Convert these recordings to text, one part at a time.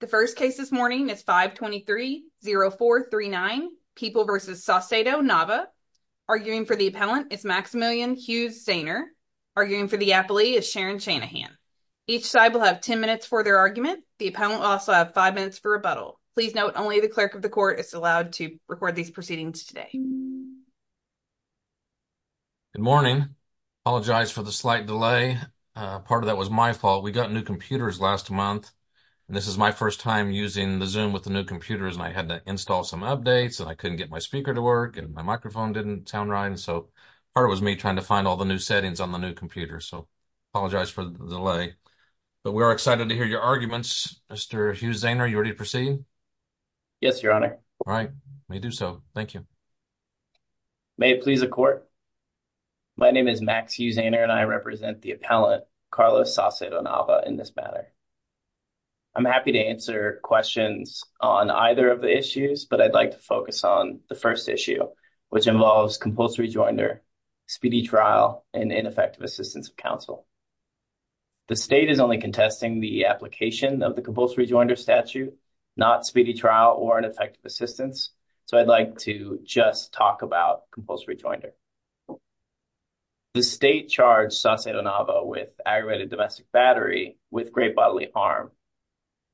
The first case this morning is 523-0439, People v. Saucedo-Nava. Arguing for the appellant is Maximilian Hughes-Zehner. Arguing for the appellee is Sharon Shanahan. Each side will have 10 minutes for their argument. The appellant will also have 5 minutes for rebuttal. Please note only the clerk of the court is allowed to record these proceedings today. Good morning. I apologize for the slight delay. Part of that was my fault. We got new computers last month. This is my first time using the Zoom with the new computers, and I had to install some updates, and I couldn't get my speaker to work, and my microphone didn't sound right. So part of it was me trying to find all the new settings on the new computer. So I apologize for the delay. But we are excited to hear your arguments. Mr. Hughes-Zehner, are you ready to proceed? Yes, Your Honor. All right. May he do so. Thank you. May it please the court. My name is Max Hughes-Zehner, and I represent the appellant, Carlos Sacedo-Nava, in this matter. I'm happy to answer questions on either of the issues, but I'd like to focus on the first issue, which involves compulsory rejoinder, speedy trial, and ineffective assistance of counsel. The state is only contesting the application of the compulsory rejoinder statute, not speedy trial or ineffective assistance. So I'd like to just talk about compulsory rejoinder. The state charged Sacedo-Nava with aggravated domestic battery with great bodily harm.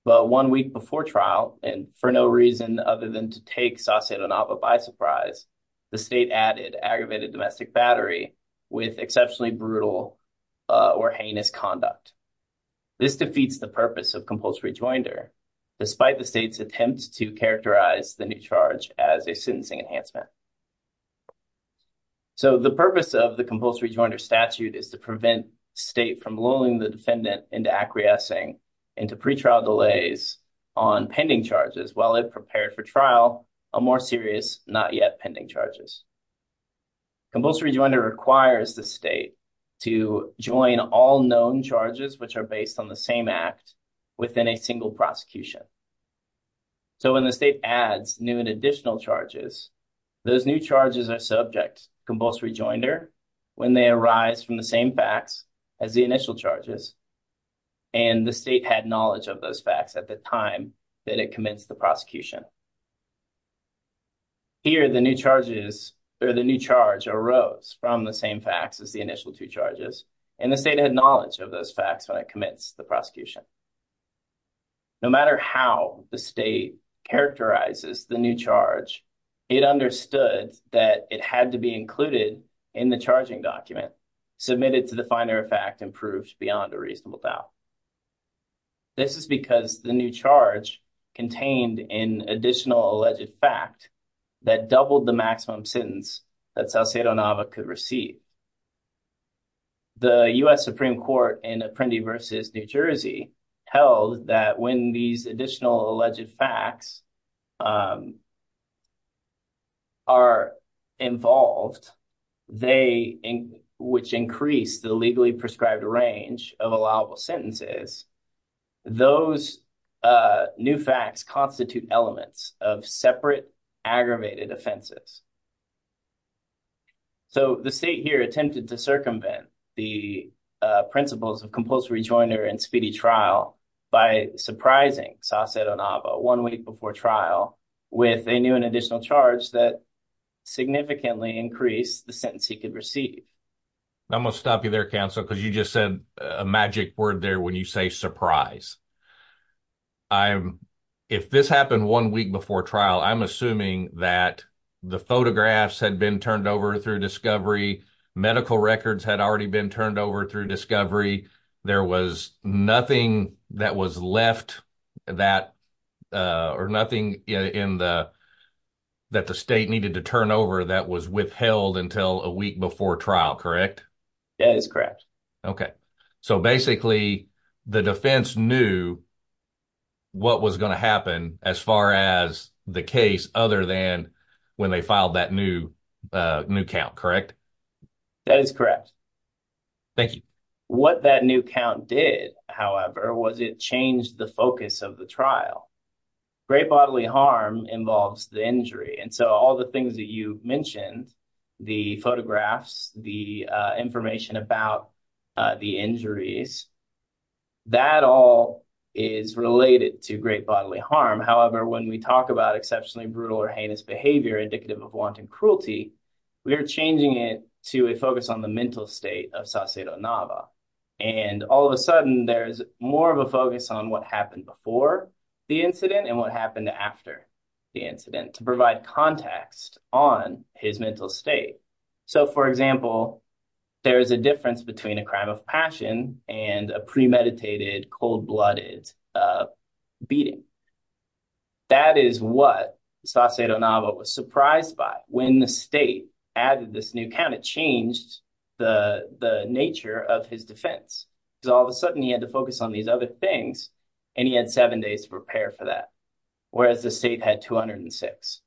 But one week before trial, and for no reason other than to take Sacedo-Nava by surprise, the state added aggravated domestic battery with exceptionally brutal or heinous conduct. This defeats the purpose of compulsory rejoinder, despite the state's attempt to characterize the new charge as a sentencing enhancement. So the purpose of the compulsory rejoinder statute is to prevent state from lulling the defendant into acquiescing into pretrial delays on pending charges while it prepared for trial on more serious, not yet pending charges. Compulsory rejoinder requires the state to join all known charges, which are based on the same act, within a single prosecution. So when the state adds new and additional charges, those new charges are subject to compulsory rejoinder when they arise from the same facts as the initial charges, and the state had knowledge of those facts at the time that it commenced the prosecution. Here, the new charges, or the new charge, arose from the same facts as the initial two charges, and the state had knowledge of those facts when it commenced the prosecution. No matter how the state characterizes the new charge, it understood that it had to be included in the charging document, submitted to the finer of fact and proved beyond a reasonable doubt. This is because the new charge contained an additional alleged fact that doubled the maximum sentence that Salcedo-Nava could receive. The U.S. Supreme Court in Apprendi v. New Jersey held that when these additional alleged facts are involved, which increase the legally prescribed range of allowable sentences, those new facts constitute elements of separate aggravated offenses. So, the state here attempted to circumvent the principles of compulsory rejoinder and speedy trial by surprising Salcedo-Nava one week before trial with a new and additional charge that significantly increased the sentence he could receive. I'm going to stop you there, counsel, because you just said a magic word there when you say surprise. If this happened one week before trial, I'm assuming that the photographs had been turned over through discovery, medical records had already been turned over through discovery, there was nothing that was left or nothing that the state needed to turn over that was withheld until a week before trial, correct? That is correct. Okay. So, basically, the defense knew what was going to happen as far as the case other than when they filed that new count, correct? That is correct. Thank you. What that new count did, however, was it changed the focus of the trial. Great bodily harm involves the injury, and so all the things that you mentioned, the photographs, the information about the injuries, that all is related to great bodily harm. However, when we talk about exceptionally brutal or heinous behavior indicative of wanton cruelty, we are changing it to a focus on the mental state of Salcedo-Nava, and all of a sudden there's more of a focus on what happened before the incident and what happened after the incident to provide context on his mental state. So, for example, there is a difference between a crime of passion and a premeditated cold-blooded beating. That is what Salcedo-Nava was surprised by. When the state added this new count, it changed the nature of his defense. Because all of a sudden he had to focus on these other things, and he had seven days to prepare for that, whereas the state had 206.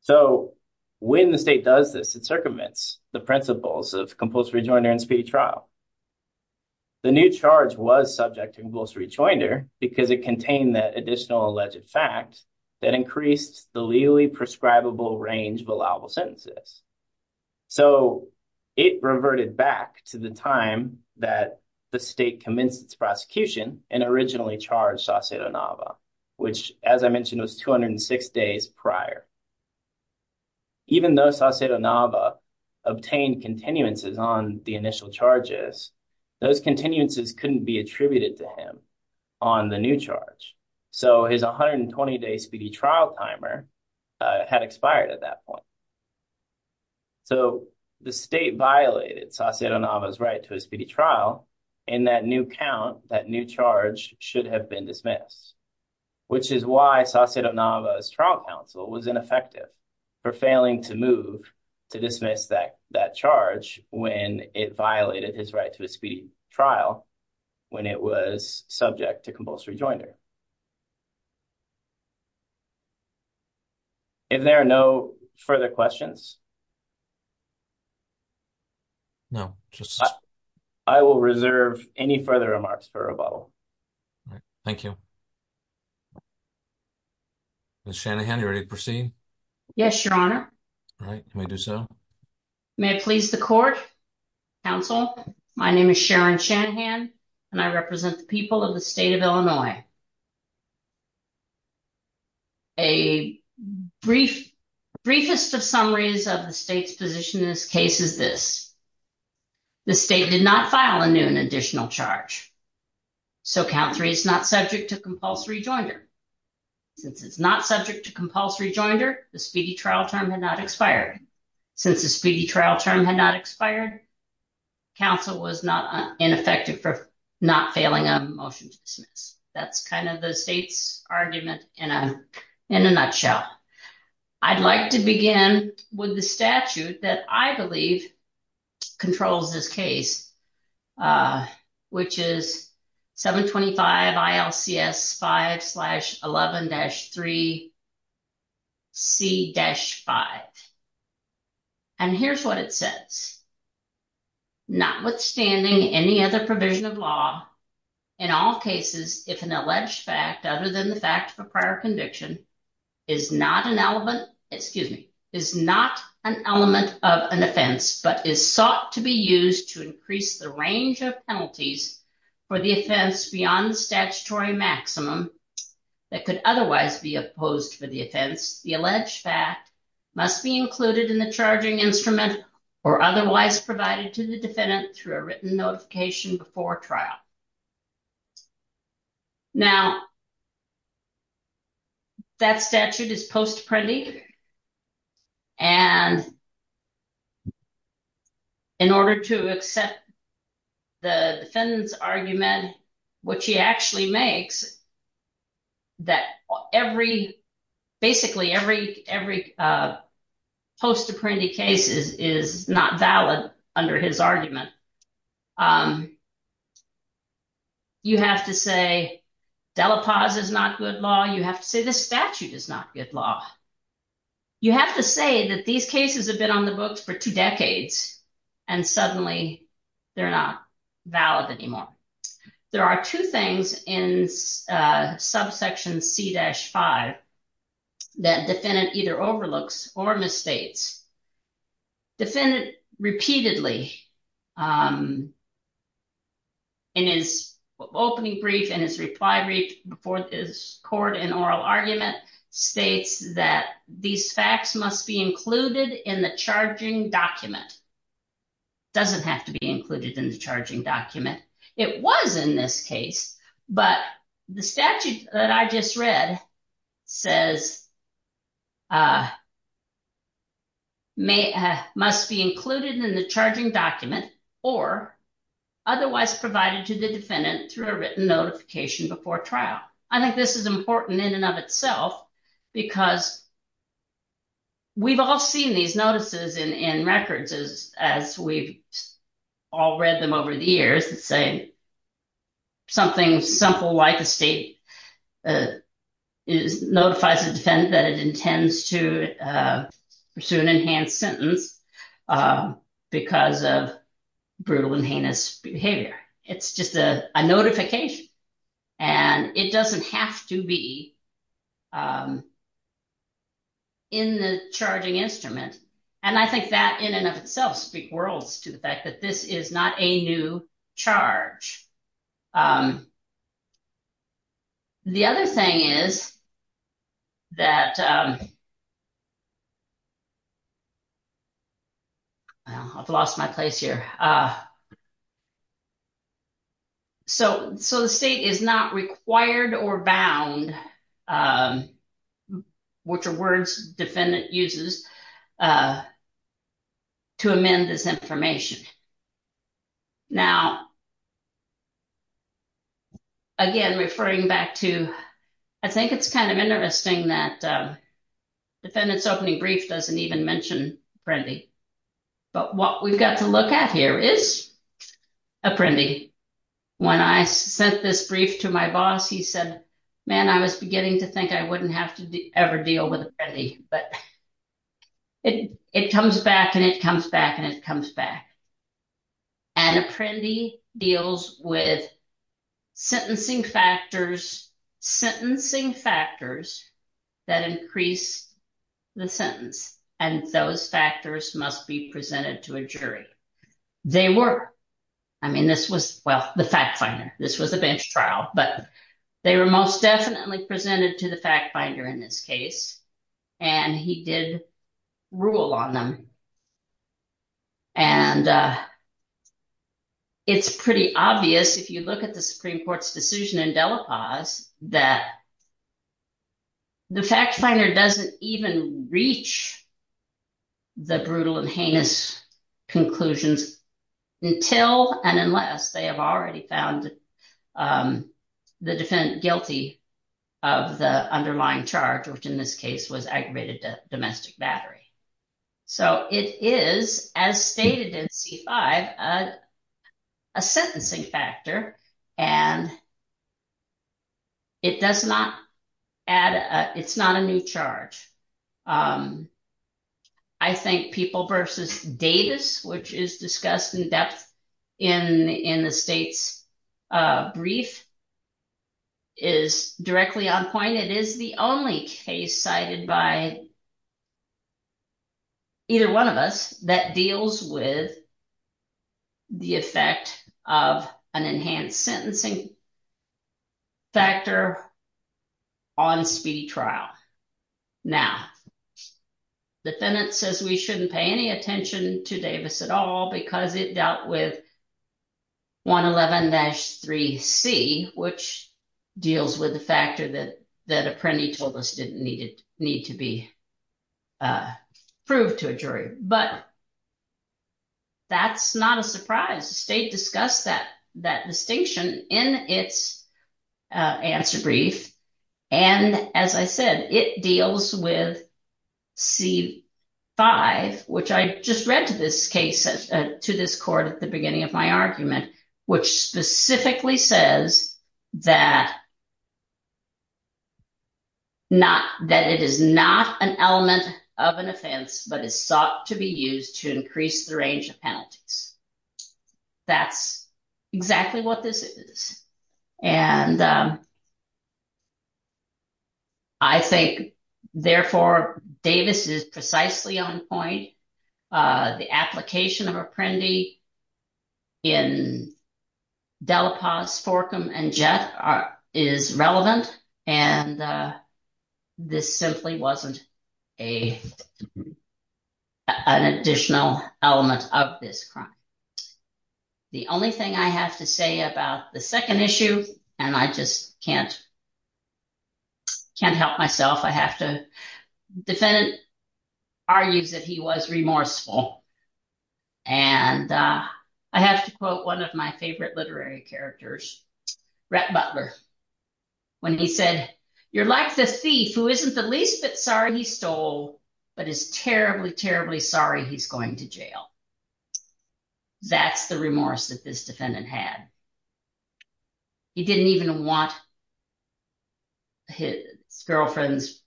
So when the state does this, it circumvents the principles of compulsory rejoinder and speedy trial. The new charge was subject to compulsory rejoinder because it contained that additional alleged fact that increased the legally prescribable range of allowable sentences. So it reverted back to the time that the state commenced its prosecution and originally charged Salcedo-Nava, which, as I mentioned, was 206 days prior. Even though Salcedo-Nava obtained continuances on the initial charges, those continuances couldn't be attributed to him on the new charge. So his 120-day speedy trial timer had expired at that point. So the state violated Salcedo-Nava's right to a speedy trial, and that new count, that new charge, should have been dismissed, which is why Salcedo-Nava's trial counsel was ineffective for failing to move to dismiss that charge when it violated his right to a speedy trial when it was subject to compulsory rejoinder. Are there no further questions? No. I will reserve any further remarks for rebuttal. Thank you. Ms. Shanahan, are you ready to proceed? Yes, Your Honor. All right. Can we do so? May it please the court, counsel, my name is Sharon Shanahan, and I represent the people of the state of Illinois. A briefest of summaries of the state's position in this case is this. The state did not file a new and additional charge, so count three is not subject to compulsory rejoinder. Since it's not subject to compulsory rejoinder, the speedy trial term had not expired. Since the speedy trial term had not expired, counsel was not ineffective for not failing a motion to dismiss. That's kind of the state's argument in a nutshell. I'd like to begin with the statute that I believe controls this case, which is 725 ILCS 5-11-3C-5, and here's what it says. Notwithstanding any other provision of law, in all cases, if an alleged fact other than the fact of a prior conviction is not an element of an offense, but is sought to be used to increase the range of penalties for the offense beyond the statutory maximum that could otherwise be opposed for the offense, the alleged fact must be included in the charging instrument or otherwise provided to the defendant through a written notification before trial. Now, that statute is post-apprendi. And in order to accept the defendant's argument, what she actually makes that basically every post-apprendi case is not valid under his argument, you have to say Delapause is not good law. You have to say this statute is not good law. You have to say that these cases have been on the books for two decades, and suddenly they're not valid anymore. There are two things in subsection C-5 that defendant either overlooks or misstates. Defendant repeatedly in his opening brief and his reply brief before his court in oral argument states that these facts must be included in the charging document. It doesn't have to be included in the charging document. It was in this case, but the statute that I just read says must be included in the charging document or otherwise provided to the defendant through a written notification before trial. I think this is important in and of itself because we've all seen these notices in records as we've all read them over the years that say something simple like the state notifies the defendant that it intends to pursue an enhanced sentence because of brutal and heinous behavior. It's just a notification, and it doesn't have to be in the charging instrument. And I think that in and of itself speaks worlds to the fact that this is not a new charge. The other thing is that I've lost my place here. So the state is not required or bound, which are words defendant uses, to amend this information. Now, again, referring back to, I think it's kind of interesting that defendant's opening brief doesn't even mention Apprendi. But what we've got to look at here is Apprendi. When I sent this brief to my boss, he said, man, I was beginning to think I wouldn't have to ever deal with Apprendi. But it comes back, and it comes back, and it comes back. And Apprendi deals with sentencing factors, sentencing factors that increase the sentence. And those factors must be presented to a jury. They were. I mean, this was, well, the fact finder. This was a bench trial, but they were most definitely presented to the fact finder in this case. And he did rule on them. And it's pretty obvious if you look at the Supreme Court's decision in Delapause that the fact finder doesn't even reach the brutal and heinous conclusions until and unless they have already found the defendant guilty of the underlying charge, which in this case was aggravated domestic battery. So it is, as stated in C-5, a sentencing factor, and it does not add, it's not a new charge. I think People v. Davis, which is discussed in depth in the state's brief, is directly on point. It is the only case cited by either one of us that deals with the effect of an enhanced sentencing factor on speedy trial. Now, the defendant says we shouldn't pay any attention to Davis at all because it dealt with 111-3C, which deals with the factor that that apprentice told us didn't need to be proved to a jury. But that's not a surprise. The state discussed that distinction in its answer brief. And as I said, it deals with C-5, which I just read to this court at the beginning of my argument, which specifically says that it is not an element of an offense, but is sought to be used to increase the range of penalties. That's exactly what this is. And I think, therefore, Davis is precisely on point. The application of Apprendi in Delapaz, Forkham, and Jett is relevant, and this simply wasn't an additional element of this crime. The only thing I have to say about the second issue, and I just can't help myself, I have to, the defendant argues that he was remorseful. And I have to quote one of my favorite literary characters, Rhett Butler, when he said, You're like the thief who isn't the least bit sorry he stole, but is terribly, terribly sorry he's going to jail. That's the remorse that this defendant had. He didn't even want his girlfriend's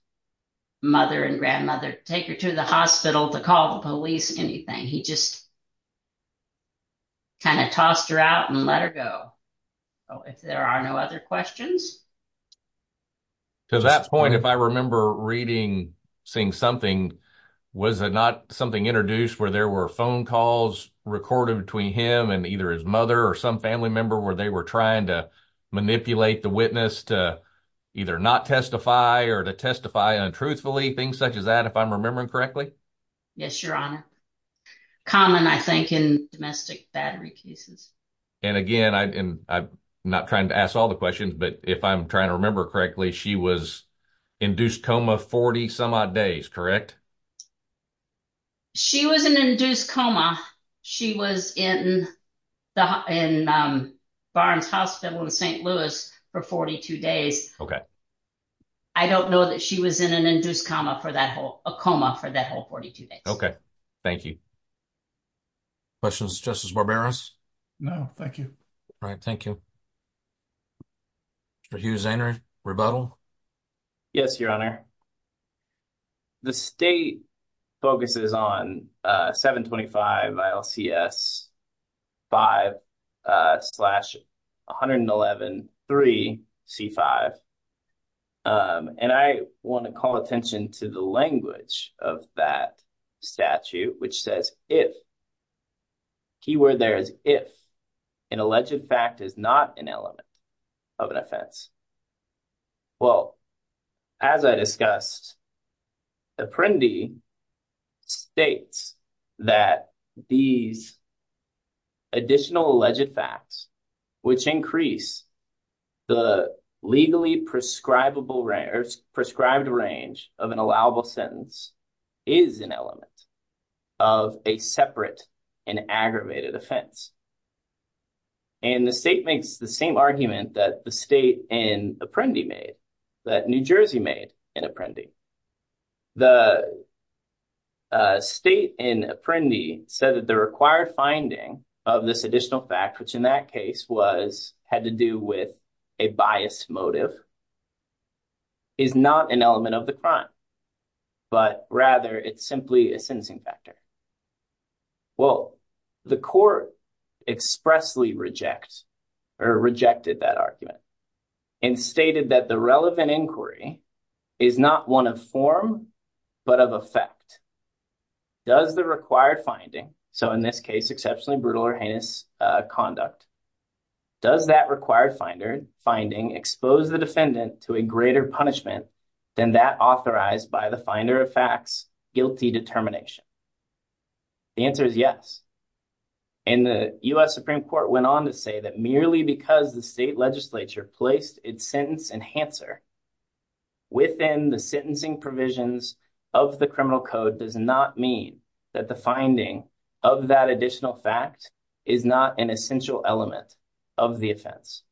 mother and grandmother to take her to the hospital to call the police or anything. He just kind of tossed her out and let her go. If there are no other questions. To that point, if I remember reading, seeing something, was it not something introduced where there were phone calls recorded between him and either his mother or some family member where they were trying to manipulate the witness to either not testify or to testify untruthfully, things such as that, if I'm remembering correctly? Yes, Your Honor. Common, I think, in domestic battery cases. And again, I'm not trying to ask all the questions, but if I'm trying to remember correctly, she was induced coma 40 some odd days, correct? She was an induced coma. She was in Barnes Hospital in St. Louis for 42 days. Okay. I don't know that she was in an induced coma for that whole, a coma for that whole 42 days. Okay. Thank you. Questions just as barbarous. No, thank you. All right. Thank you. Rebuttal. Yes, Your Honor. The state focuses on 725 ILCS 5 slash 111 3 C5. And I want to call attention to the language of that statute, which says if. Keyword there is if an alleged fact is not an element of an offense. Well, as I discussed. Apprendi states that these. Additional alleged facts, which increase the legally prescribable or prescribed range of an allowable sentence is an element. Of a separate and aggravated offense. And the state makes the same argument that the state in Apprendi made that New Jersey made in Apprendi. The state in Apprendi said that the required finding of this additional fact, which in that case was had to do with a bias motive. Is not an element of the crime, but rather it's simply a sensing factor. Well, the court expressly rejects or rejected that argument and stated that the relevant inquiry is not one of form, but of effect. Does the required finding so in this case, exceptionally brutal or heinous conduct. Does that required finder finding expose the defendant to a greater punishment than that authorized by the finder of facts guilty determination. The answer is yes, and the US Supreme Court went on to say that merely because the state legislature placed its sentence enhancer. Within the sentencing provisions of the criminal code does not mean that the finding of that additional fact is not an essential element of the offense.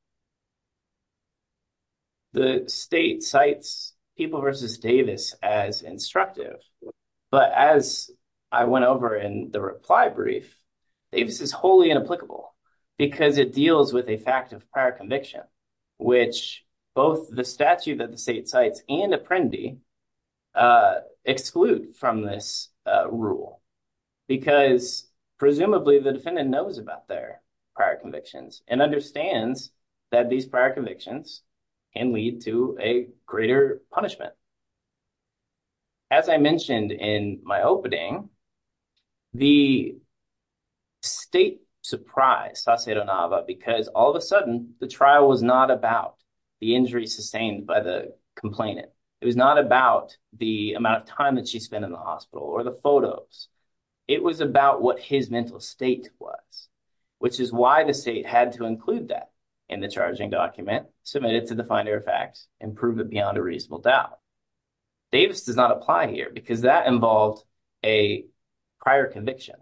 The state sites people versus Davis as instructive, but as I went over in the reply brief. Davis is wholly inapplicable because it deals with a fact of prior conviction, which both the statute that the state sites and Apprendi. Exclude from this rule because presumably the defendant knows about their prior convictions and understands that these prior convictions and lead to a greater punishment. As I mentioned in my opening. The state surprise because all of a sudden the trial was not about the injury sustained by the complainant. It was not about the amount of time that she spent in the hospital or the photos. It was about what his mental state was, which is why the state had to include that in the charging document submitted to the finder of facts and prove it beyond a reasonable doubt. Davis does not apply here because that involved a prior conviction.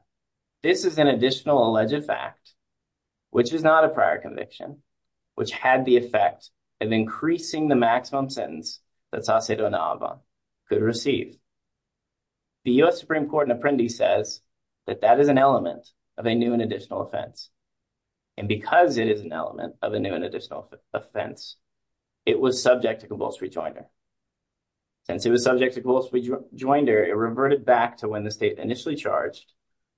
This is an additional alleged fact, which is not a prior conviction, which had the effect of increasing the maximum sentence that could receive. The U.S. Supreme Court and Apprendi says that that is an element of a new and additional offense. And because it is an element of a new and additional offense, it was subject to convulse rejoinder. Since it was subject to convulse rejoinder, it reverted back to when the state initially charged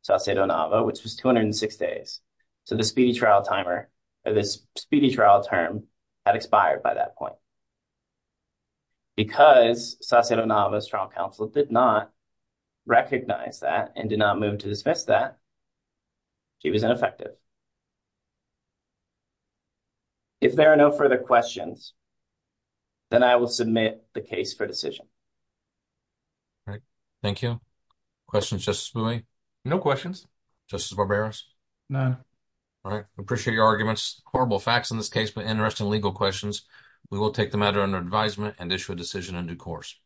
Sacedo-Nava, which was 206 days. So the speedy trial timer or this speedy trial term had expired by that point. Because Sacedo-Nava's trial counsel did not recognize that and did not move to dismiss that, she was ineffective. If there are no further questions, then I will submit the case for decision. All right. Thank you. Questions, Justice Bouie? No questions. Justice Barberos? None. All right. Appreciate your arguments. Horrible facts in this case, but interesting legal questions. We will take the matter under advisement and issue a decision in due course. Thank you.